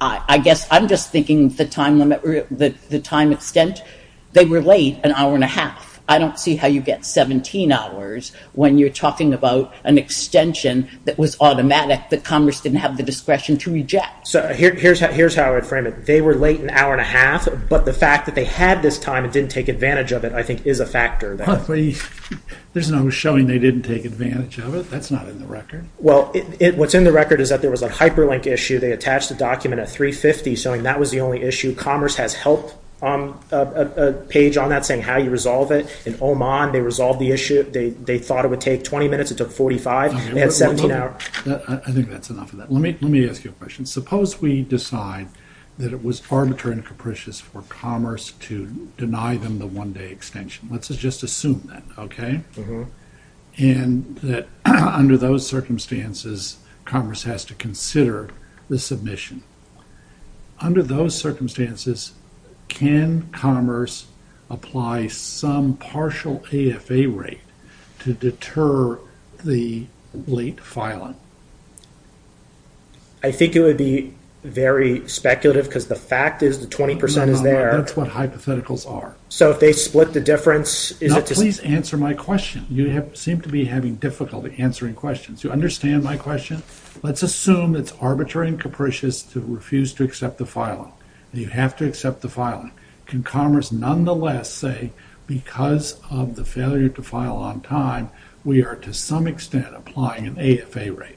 I guess I'm just thinking the time extent, they were late an hour and a half. I don't see how you get 17 hours when you're talking about an extension that was automatic that Congress didn't have the discretion to reject. So here's how I'd frame it. They were late an hour and a half, but the fact that they had this time and didn't take advantage of it, I think, is a factor. There's no showing they didn't take advantage of it. That's not in the record. Well, what's in the record is that there was a hyperlink issue. They attached a document at 3.50 showing that was the only issue. Commerce has help on a page on that saying how you resolve it. In Oman, they resolved the issue. They thought it would take 20 minutes. It took 45. They had 17 hours. I think that's enough of that. Let me ask you a question. Suppose we decide that it was arbitrary and capricious for Commerce to deny them the one-day extension. Let's just assume that, okay? And that under those circumstances, Commerce has to consider the submission. Under those circumstances, can Commerce apply some partial AFA rate to deter the late filing? I think it would be very speculative because the fact is the 20% is there. That's what hypotheticals are. So, if they split the difference, is it just... Now, please answer my question. You seem to be having difficulty answering questions. You understand my question? Let's assume it's arbitrary and capricious to refuse to accept the filing. You have to accept the filing. Can Commerce nonetheless say, because of the failure to file on time, we are to some extent applying an AFA rate?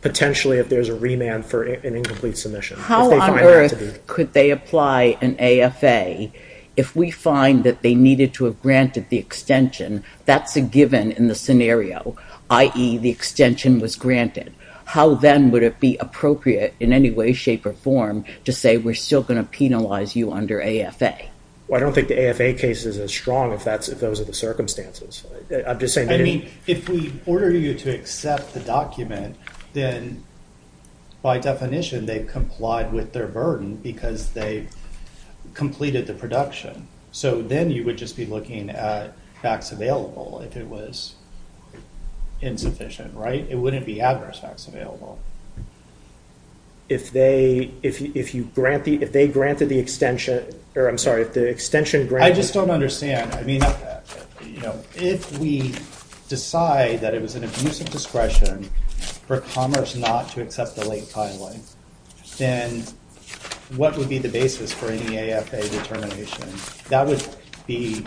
Potentially, if there's a remand for an incomplete submission. How on earth could they apply an AFA if we find that they needed to have granted the extension? That's a given in the scenario, i.e. the extension was granted. How then would it be appropriate in any way, shape, or form to say we're still going to penalize you under AFA? Well, I don't think the AFA case is as strong if those are the circumstances. If we order you to accept the document, then by definition, they've complied with their burden because they completed the production. So, then you would just be looking at facts available if it was insufficient, right? It wouldn't be adverse facts available. If they, if you grant the, if they granted the extension, or I'm sorry, if the extension granted- I just don't understand. I mean, you know, if we decide that it was an abuse of discretion for Commerce not to accept the late filing, then what would be the basis for any AFA determination? That would be,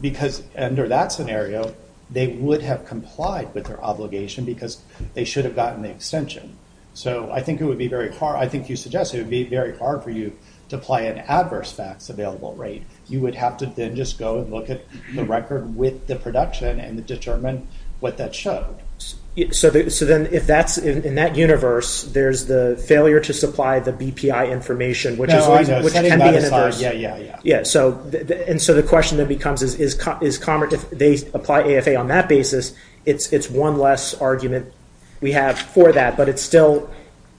because under that scenario, they would have complied with their obligation because they should have gotten the extension. So, I think it would be very hard. I think you suggest it would be very hard for you to apply an adverse facts available rate. You would have to then just go and look at the record with the production and determine what that showed. So, then if that's, in that universe, there's the failure to supply the BPI information, which is already- No, I know, setting that aside, yeah, yeah, yeah. Yeah, so, and so the question then becomes, if they apply AFA on that basis, it's one less argument we have for that, but it's still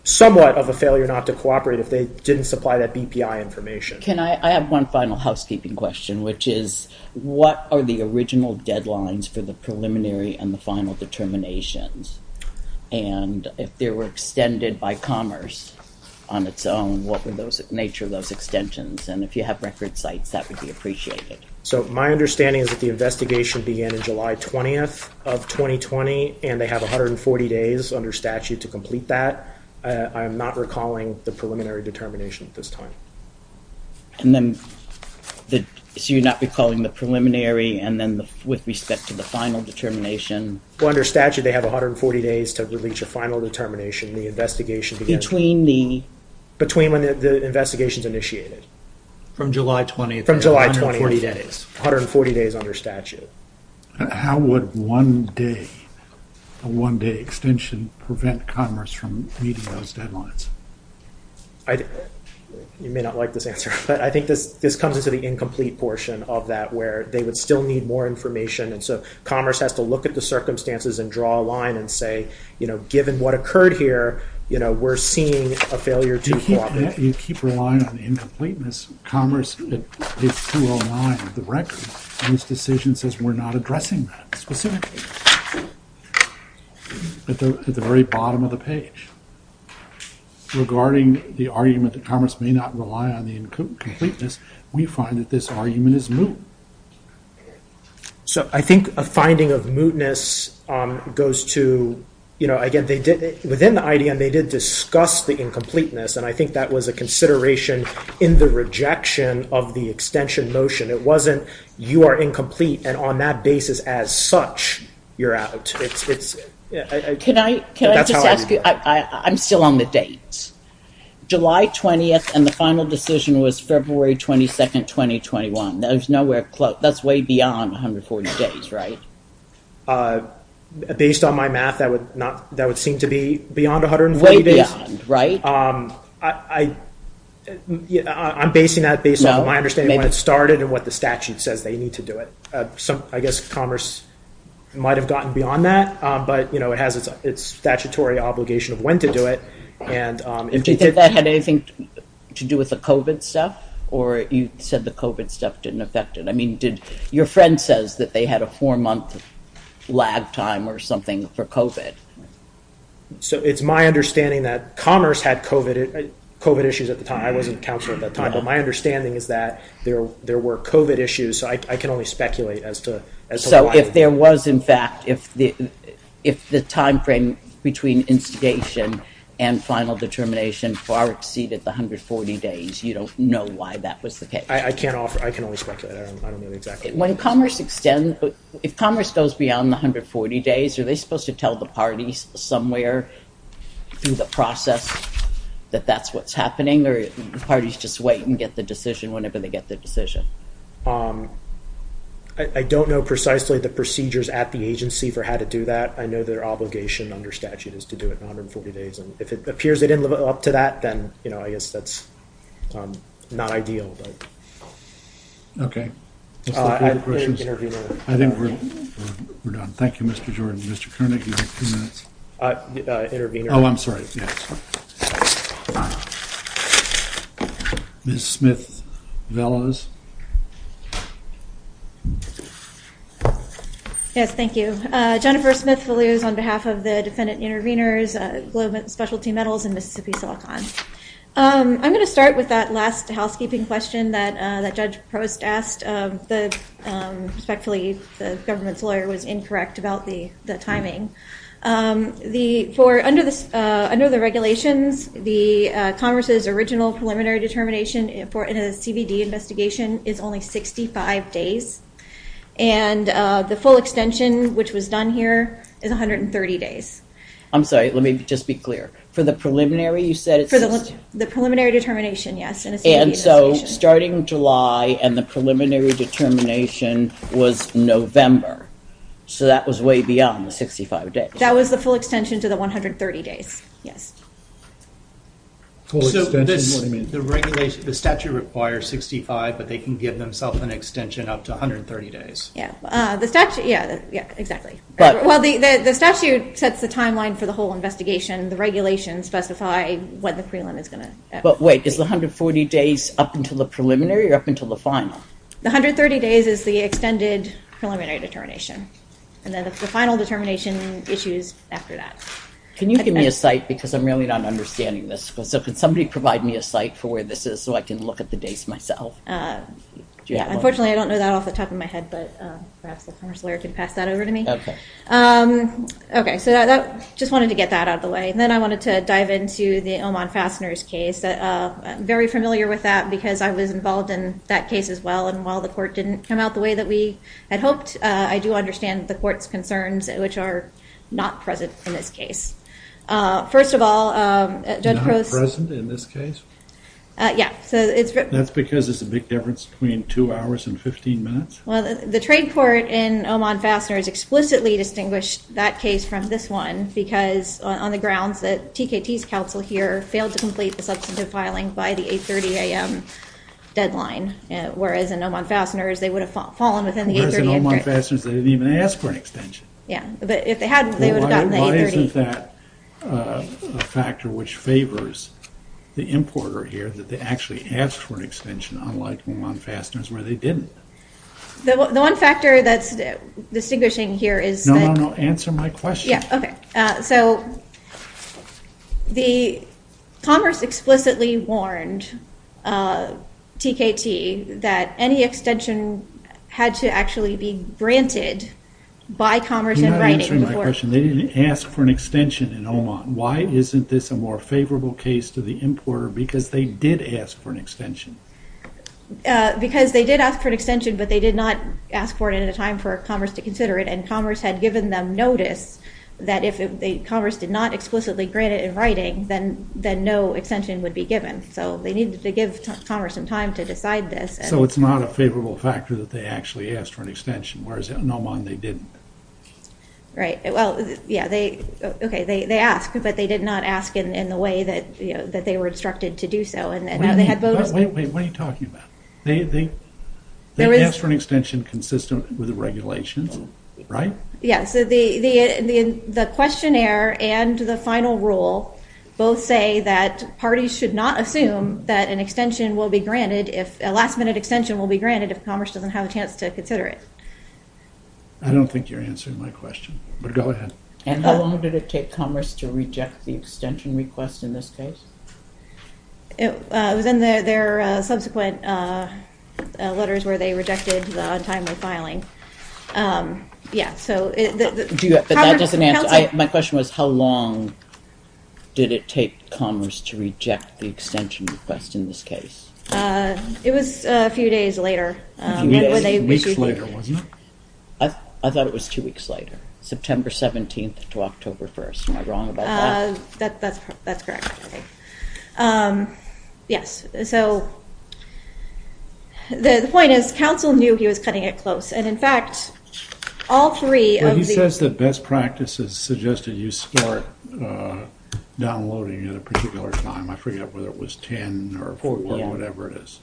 somewhat of a failure not to cooperate if they didn't supply that BPI information. Can I- I have one final housekeeping question, which is, what are the original deadlines for the preliminary and the final determinations? And if they were extended by Commerce on its own, what were the nature of those extensions? And if you have record sites, that would be appreciated. So, my understanding is that the investigation began in July 20th of 2020, and they have 140 days under statute to complete that. I am not recalling the preliminary determination at this time. And then, so you're not recalling the preliminary, and then with respect to the final determination? Well, under statute, they have 140 days to reach a final determination. The investigation began- Between the- Between when the investigation's initiated. From July 20th. From July 20th. 140 days under statute. How would one day, a one-day extension, prevent Commerce from meeting those deadlines? You may not like this answer, but I think this comes into the incomplete portion of that, where they would still need more information, and so Commerce has to look at the circumstances and draw a line and say, you know, given what occurred here, you know, we're seeing a failure to cooperate. You keep relying on incompleteness. Commerce, at page 209 of the record, on this decision says, we're not addressing that specifically. At the very bottom of the page, regarding the argument that Commerce may not rely on the incompleteness, we find that this argument is moot. So I think a finding of mootness goes to, you know, again, they did, within the IDM, they did discuss the incompleteness, and I think that was a consideration in the rejection of the extension motion. It wasn't, you are incomplete, and on that basis, as such, you're out. Can I just ask you, I'm still on the dates. July 20th, and the final decision was February 22nd, 2021. There's nowhere close. That's way beyond 140 days, right? Based on my math, that would seem to be beyond 140 days. Way beyond, right? I'm basing that based on my understanding when it started and what the statute says they need to do it. I guess Commerce might have gotten beyond that, but, you know, it has its statutory obligation of when to do it, and- Do you think that had anything to do with the COVID stuff, or you said the COVID stuff didn't affect it? I mean, did, your friend says that they had a four-month lag time or something for COVID. So it's my understanding that Commerce had COVID issues at the time. I wasn't counsel at that time, but my understanding is that there were COVID issues. So I can only speculate as to why- So if there was, in fact, if the time frame between instigation and final determination far exceeded the 140 days, you don't know why that was the case. I can't offer, I can only speculate. I don't know exactly. When Commerce extends, if Commerce goes beyond the 140 days, are they supposed to tell the parties somewhere through the process that that's what's happening, or the parties just wait and get the decision whenever they get the decision? I don't know precisely the procedures at the agency for how to do that. I know their obligation under statute is to do it in 140 days, and if it appears they didn't live up to that, then, you know, I guess that's not ideal. Okay. I think we're done. Thank you, Mr. Jordan. Mr. Koenig, you have two minutes. Oh, I'm sorry, yes. Ms. Smith-Velos. Yes, thank you. Jennifer Smith-Velos on behalf of the Defendant Intervenors, Globe and Specialty Metals, and Mississippi Silicon. I'm gonna start with that last housekeeping question that Judge Post asked. Respectfully, the government's lawyer was incorrect about the timing. The, for, under the regulations, the Congress's original preliminary determination in a CBD investigation is only 65 days, and the full extension, which was done here, is 130 days. I'm sorry, let me just be clear. For the preliminary, you said it's- For the preliminary determination, yes, in a CBD investigation. And so, starting July, and the preliminary determination was November. So that was way beyond the 65 days. That was the full extension to the 130 days, yes. Full extension, what do you mean? The regulation, the statute requires 65, but they can give themselves an extension up to 130 days. Yeah, the statute, yeah, yeah, exactly. But- Well, the statute sets the timeline for the whole investigation. The regulations specify when the prelim is gonna- But wait, is the 140 days up until the preliminary or up until the final? The 130 days is the extended preliminary determination, and then the final determination issues after that. Can you give me a site? Because I'm really not understanding this. So could somebody provide me a site for where this is so I can look at the dates myself? Yeah, unfortunately, I don't know that off the top of my head, but perhaps the Congress lawyer could pass that over to me. Okay, so just wanted to get that out of the way. And then I wanted to dive into the Oman Fasteners case. I'm very familiar with that because I was involved in that case as well. And while the court didn't come out the way that we had hoped, I do understand the court's concerns, which are not present in this case. First of all, Judge Crow- Not present in this case? Yeah, so it's- That's because there's a big difference between two hours and 15 minutes? Well, the trade court in Oman Fasteners explicitly distinguished that case from this one because on the grounds that TKT's counsel here failed to complete the substantive filing by the 8.30 a.m. deadline, whereas in Oman Fasteners, they would have fallen within the 8.30 a.m. Whereas in Oman Fasteners, they didn't even ask for an extension. Yeah, but if they had, they would have gotten the 8.30. Well, why isn't that a factor which favors the importer here, that they actually asked for an extension, unlike Oman Fasteners, where they didn't? The one factor that's distinguishing here is- No, no, no, answer my question. Yeah, okay. So the commerce explicitly warned TKT that any extension had to actually be granted by commerce in writing before- You're not answering my question. They didn't ask for an extension in Oman. Why isn't this a more favorable case to the importer? Because they did ask for an extension. Because they did ask for an extension, but they did not ask for it at a time for commerce to consider it, and commerce had given them notice that if commerce did not explicitly grant it in writing, then no extension would be given. So they needed to give commerce some time to decide this. So it's not a favorable factor that they actually asked for an extension, whereas in Oman, they didn't. Right, well, yeah, okay, they asked, but they did not ask in the way that they were instructed to do so, and they had voters- Wait, wait, wait, what are you talking about? They asked for an extension consistent with the regulations, right? Yeah, so the questionnaire and the final rule both say that parties should not assume that a last-minute extension will be granted if commerce doesn't have a chance to consider it. I don't think you're answering my question, but go ahead. And how long did it take commerce to reject the extension request in this case? It was in their subsequent letters where they rejected the untimely filing. Yeah, so- But that doesn't answer, my question was, how long did it take commerce to reject the extension request in this case? It was a few days later. A few days, weeks later, wasn't it? I thought it was two weeks later, September 17th to October 1st. Am I wrong about that? That's correct, I think. Yes, so the point is, council knew he was cutting it close, and in fact, all three of the- But he says that best practices suggested you start downloading at a particular time. I forget whether it was 10 or 14, whatever it is.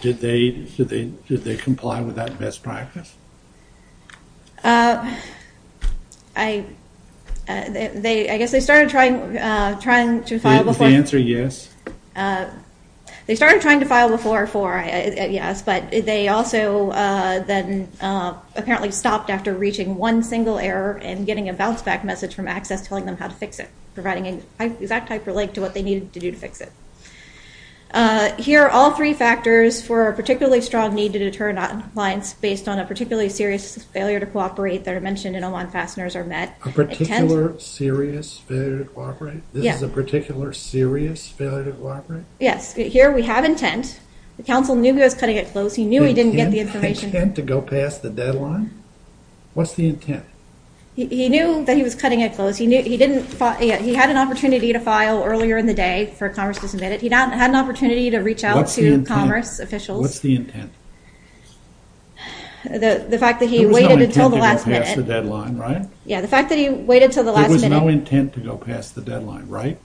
Did they comply with that best practice? I guess they started trying to file before- Did they answer yes? They started trying to file before, yes, but they also then apparently stopped after reaching one single error and getting a bounce back message from Access telling them how to fix it, providing an exact hyperlink to what they needed to do to fix it. Here are all three factors for a particularly strong need to deter noncompliance based on a particularly serious failure to cooperate that are mentioned in Oman Fasteners are met. A particular serious failure to cooperate? This is a particular serious failure to cooperate? Yes, here we have intent. The council knew he was cutting it close. He knew he didn't get the information. Intent to go past the deadline? What's the intent? He knew that he was cutting it close. He had an opportunity to file earlier in the day for Congress to submit it. He had an opportunity to reach out to Congress officials. What's the intent? The fact that he waited until the last minute. There was no intent to go past the deadline, right? Yeah, the fact that he waited until the last minute. There was no intent to go past the deadline, right?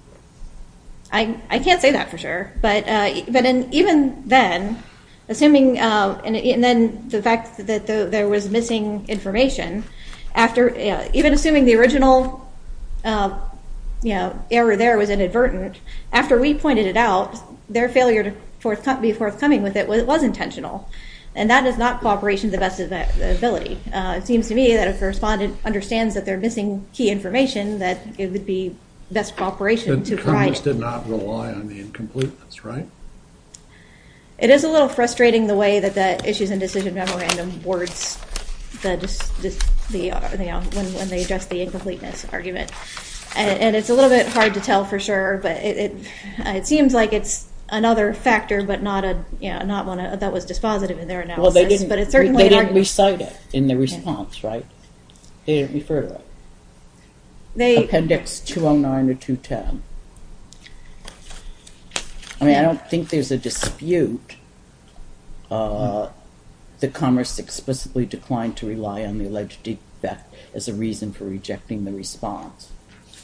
I can't say that for sure, but even then, assuming, and then the fact that there was missing information, even assuming the original error there was inadvertent, after we pointed it out, their failure to be forthcoming with it was intentional, and that is not cooperation to the best of their ability. It seems to me that if a respondent understands that they're missing key information, that it would be best cooperation to provide it. Congress did not rely on the incompleteness, right? It is a little frustrating the way that the Issues and Decision Memorandum words when they address the incompleteness argument, and it's a little bit hard to tell for sure, but it seems like it's another factor, but not one that was dispositive in their analysis, but it's certainly an argument. They didn't recite it in the response, right? They didn't refer to it. Appendix 209 or 210. I mean, I don't think there's a dispute that Commerce explicitly declined to rely on the alleged defect as a reason for rejecting the response.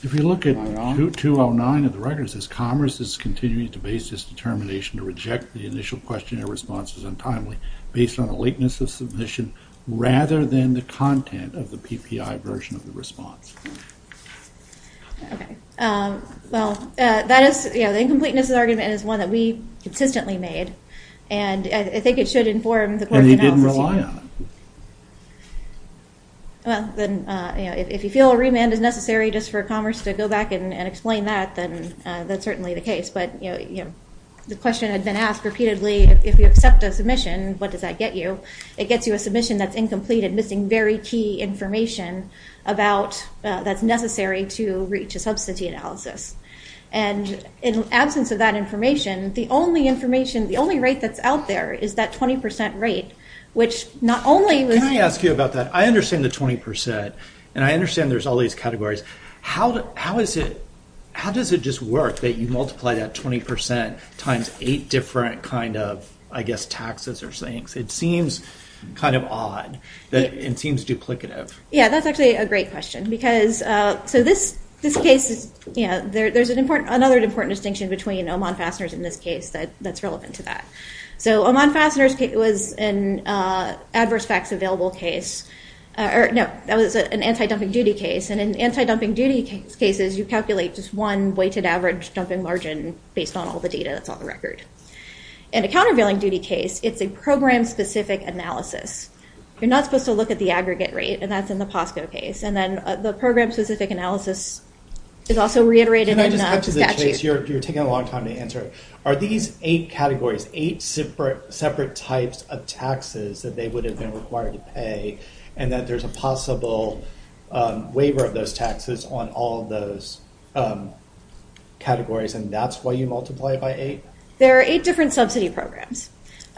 If you look at 209 of the records, it says Commerce is continuing to base this determination to reject the initial questionnaire responses untimely based on a lateness of submission rather than the content of the PPI version of the response. Okay, well, that is, you know, the incompleteness of the argument is one that we consistently made, and I think it should inform the Court's analysis. And you didn't rely on it. Well, then, you know, if you feel a remand is necessary just for Commerce to go back and explain that, then that's certainly the case, but, you know, the question had been asked repeatedly, if you accept a submission, what does that get you? It gets you a submission that's incomplete and missing very key information about that's necessary to reach a subsidy analysis. And in absence of that information, the only information, the only rate that's out there is that 20% rate, which not only was... Can I ask you about that? I understand the 20%, and I understand there's all these categories. How does it just work that you multiply that 20% times eight different kind of, I guess, taxes or things? It seems kind of odd. It seems duplicative. Yeah, that's actually a great question, because, so this case is, you know, there's another important distinction between Oman fasteners in this case that's relevant to that. So Oman fasteners was an adverse facts available case, or no, that was an anti-dumping duty case. And in anti-dumping duty cases, you calculate just one weighted average dumping margin based on all the data that's on the record. In a countervailing duty case, it's a program-specific analysis. You're not supposed to look at the aggregate rate, and that's in the POSCO case. And then the program-specific analysis is also reiterated in the statute. Can I just add to this, Chase? You're taking a long time to answer it. Are these eight categories, eight separate types of taxes that they would have been required to pay, and that there's a possible waiver of those taxes on all of those categories, and that's why you multiply it by eight? There are eight different subsidy programs.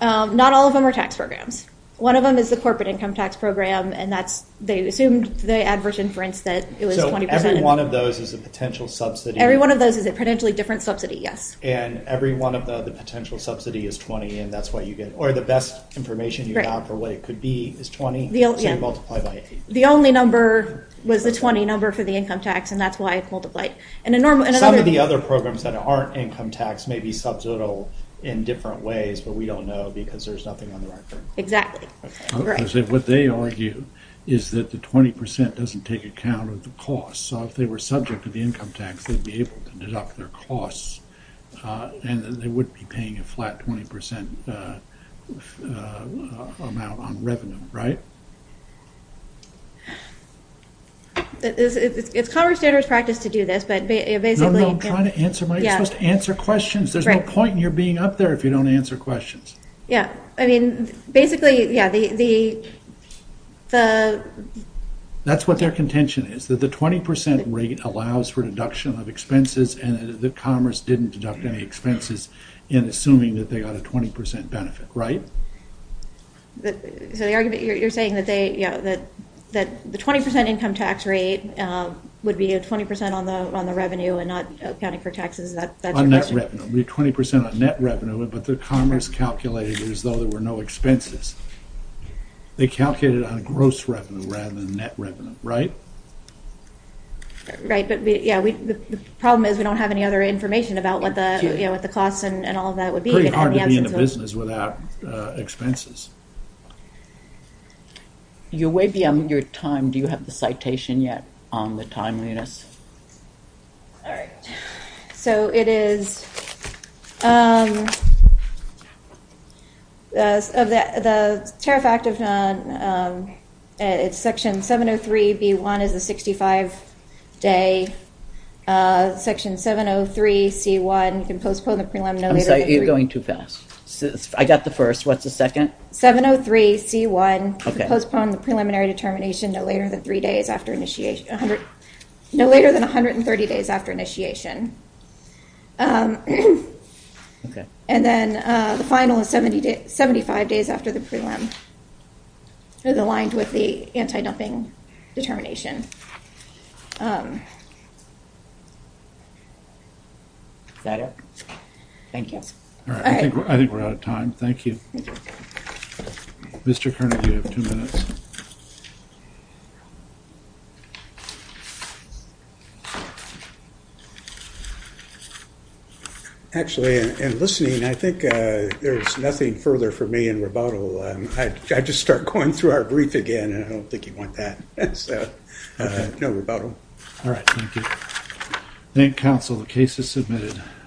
Not all of them are tax programs. One of them is the corporate income tax program, and that's, they assumed the adverse inference that it was 20%. So every one of those is a potential subsidy? Every one of those is a potentially different subsidy, yes. And every one of the potential subsidy is 20, and that's what you get, or the best information you have for what it could be is 20, so you multiply by eight? The only number was the 20 number for the income tax, and that's why it multiplied. And some of the other programs that aren't income tax may be subsidial in different ways, but we don't know because there's nothing on the record. Exactly, correct. What they argue is that the 20% doesn't take account of the cost, so if they were subject to the income tax, they'd be able to deduct their costs, and they wouldn't be paying a flat 20% amount on revenue, right? It's common standards practice to do this, but basically- No, no, I'm trying to answer my, you're supposed to answer questions. There's no point in your being up there if you don't answer questions. Yeah, I mean, basically, yeah, the- That's what their contention is, that the 20% rate allows for deduction of expenses and that Commerce didn't deduct any expenses in assuming that they got a 20% benefit, right? So the argument, you're saying that they, yeah, that the 20% income tax rate would be a 20% on the revenue and not accounting for taxes, that's your question? On net revenue, it would be 20% on net revenue, but the Commerce calculated it as though there were no expenses. They calculated on gross revenue rather than net revenue, right? Right, but yeah, the problem is we don't have any other information about what the costs and all of that would be- Pretty hard to be in the business without expenses. You're way beyond your time. Do you have the citation yet on the timeliness? All right, so it is, the tariff act, it's section 703B1 is a 65-day, section 703C1, you can postpone the prelim- I'm sorry, you're going too fast. I got the first, what's the second? 703C1, postpone the preliminary determination no later than three days after initiation, no later than 130 days after initiation. Okay. And then the final is 75 days after the prelim, it's aligned with the anti-dumping determination. Is that it? Thank you. All right, I think we're out of time, thank you. Mr. Kernagy, you have two minutes. Actually, in listening, I think there's nothing further for me in rebuttal. I just start going through our brief again and I don't think you want that, so no rebuttal. All right, thank you. Thank you, council, the case is submitted.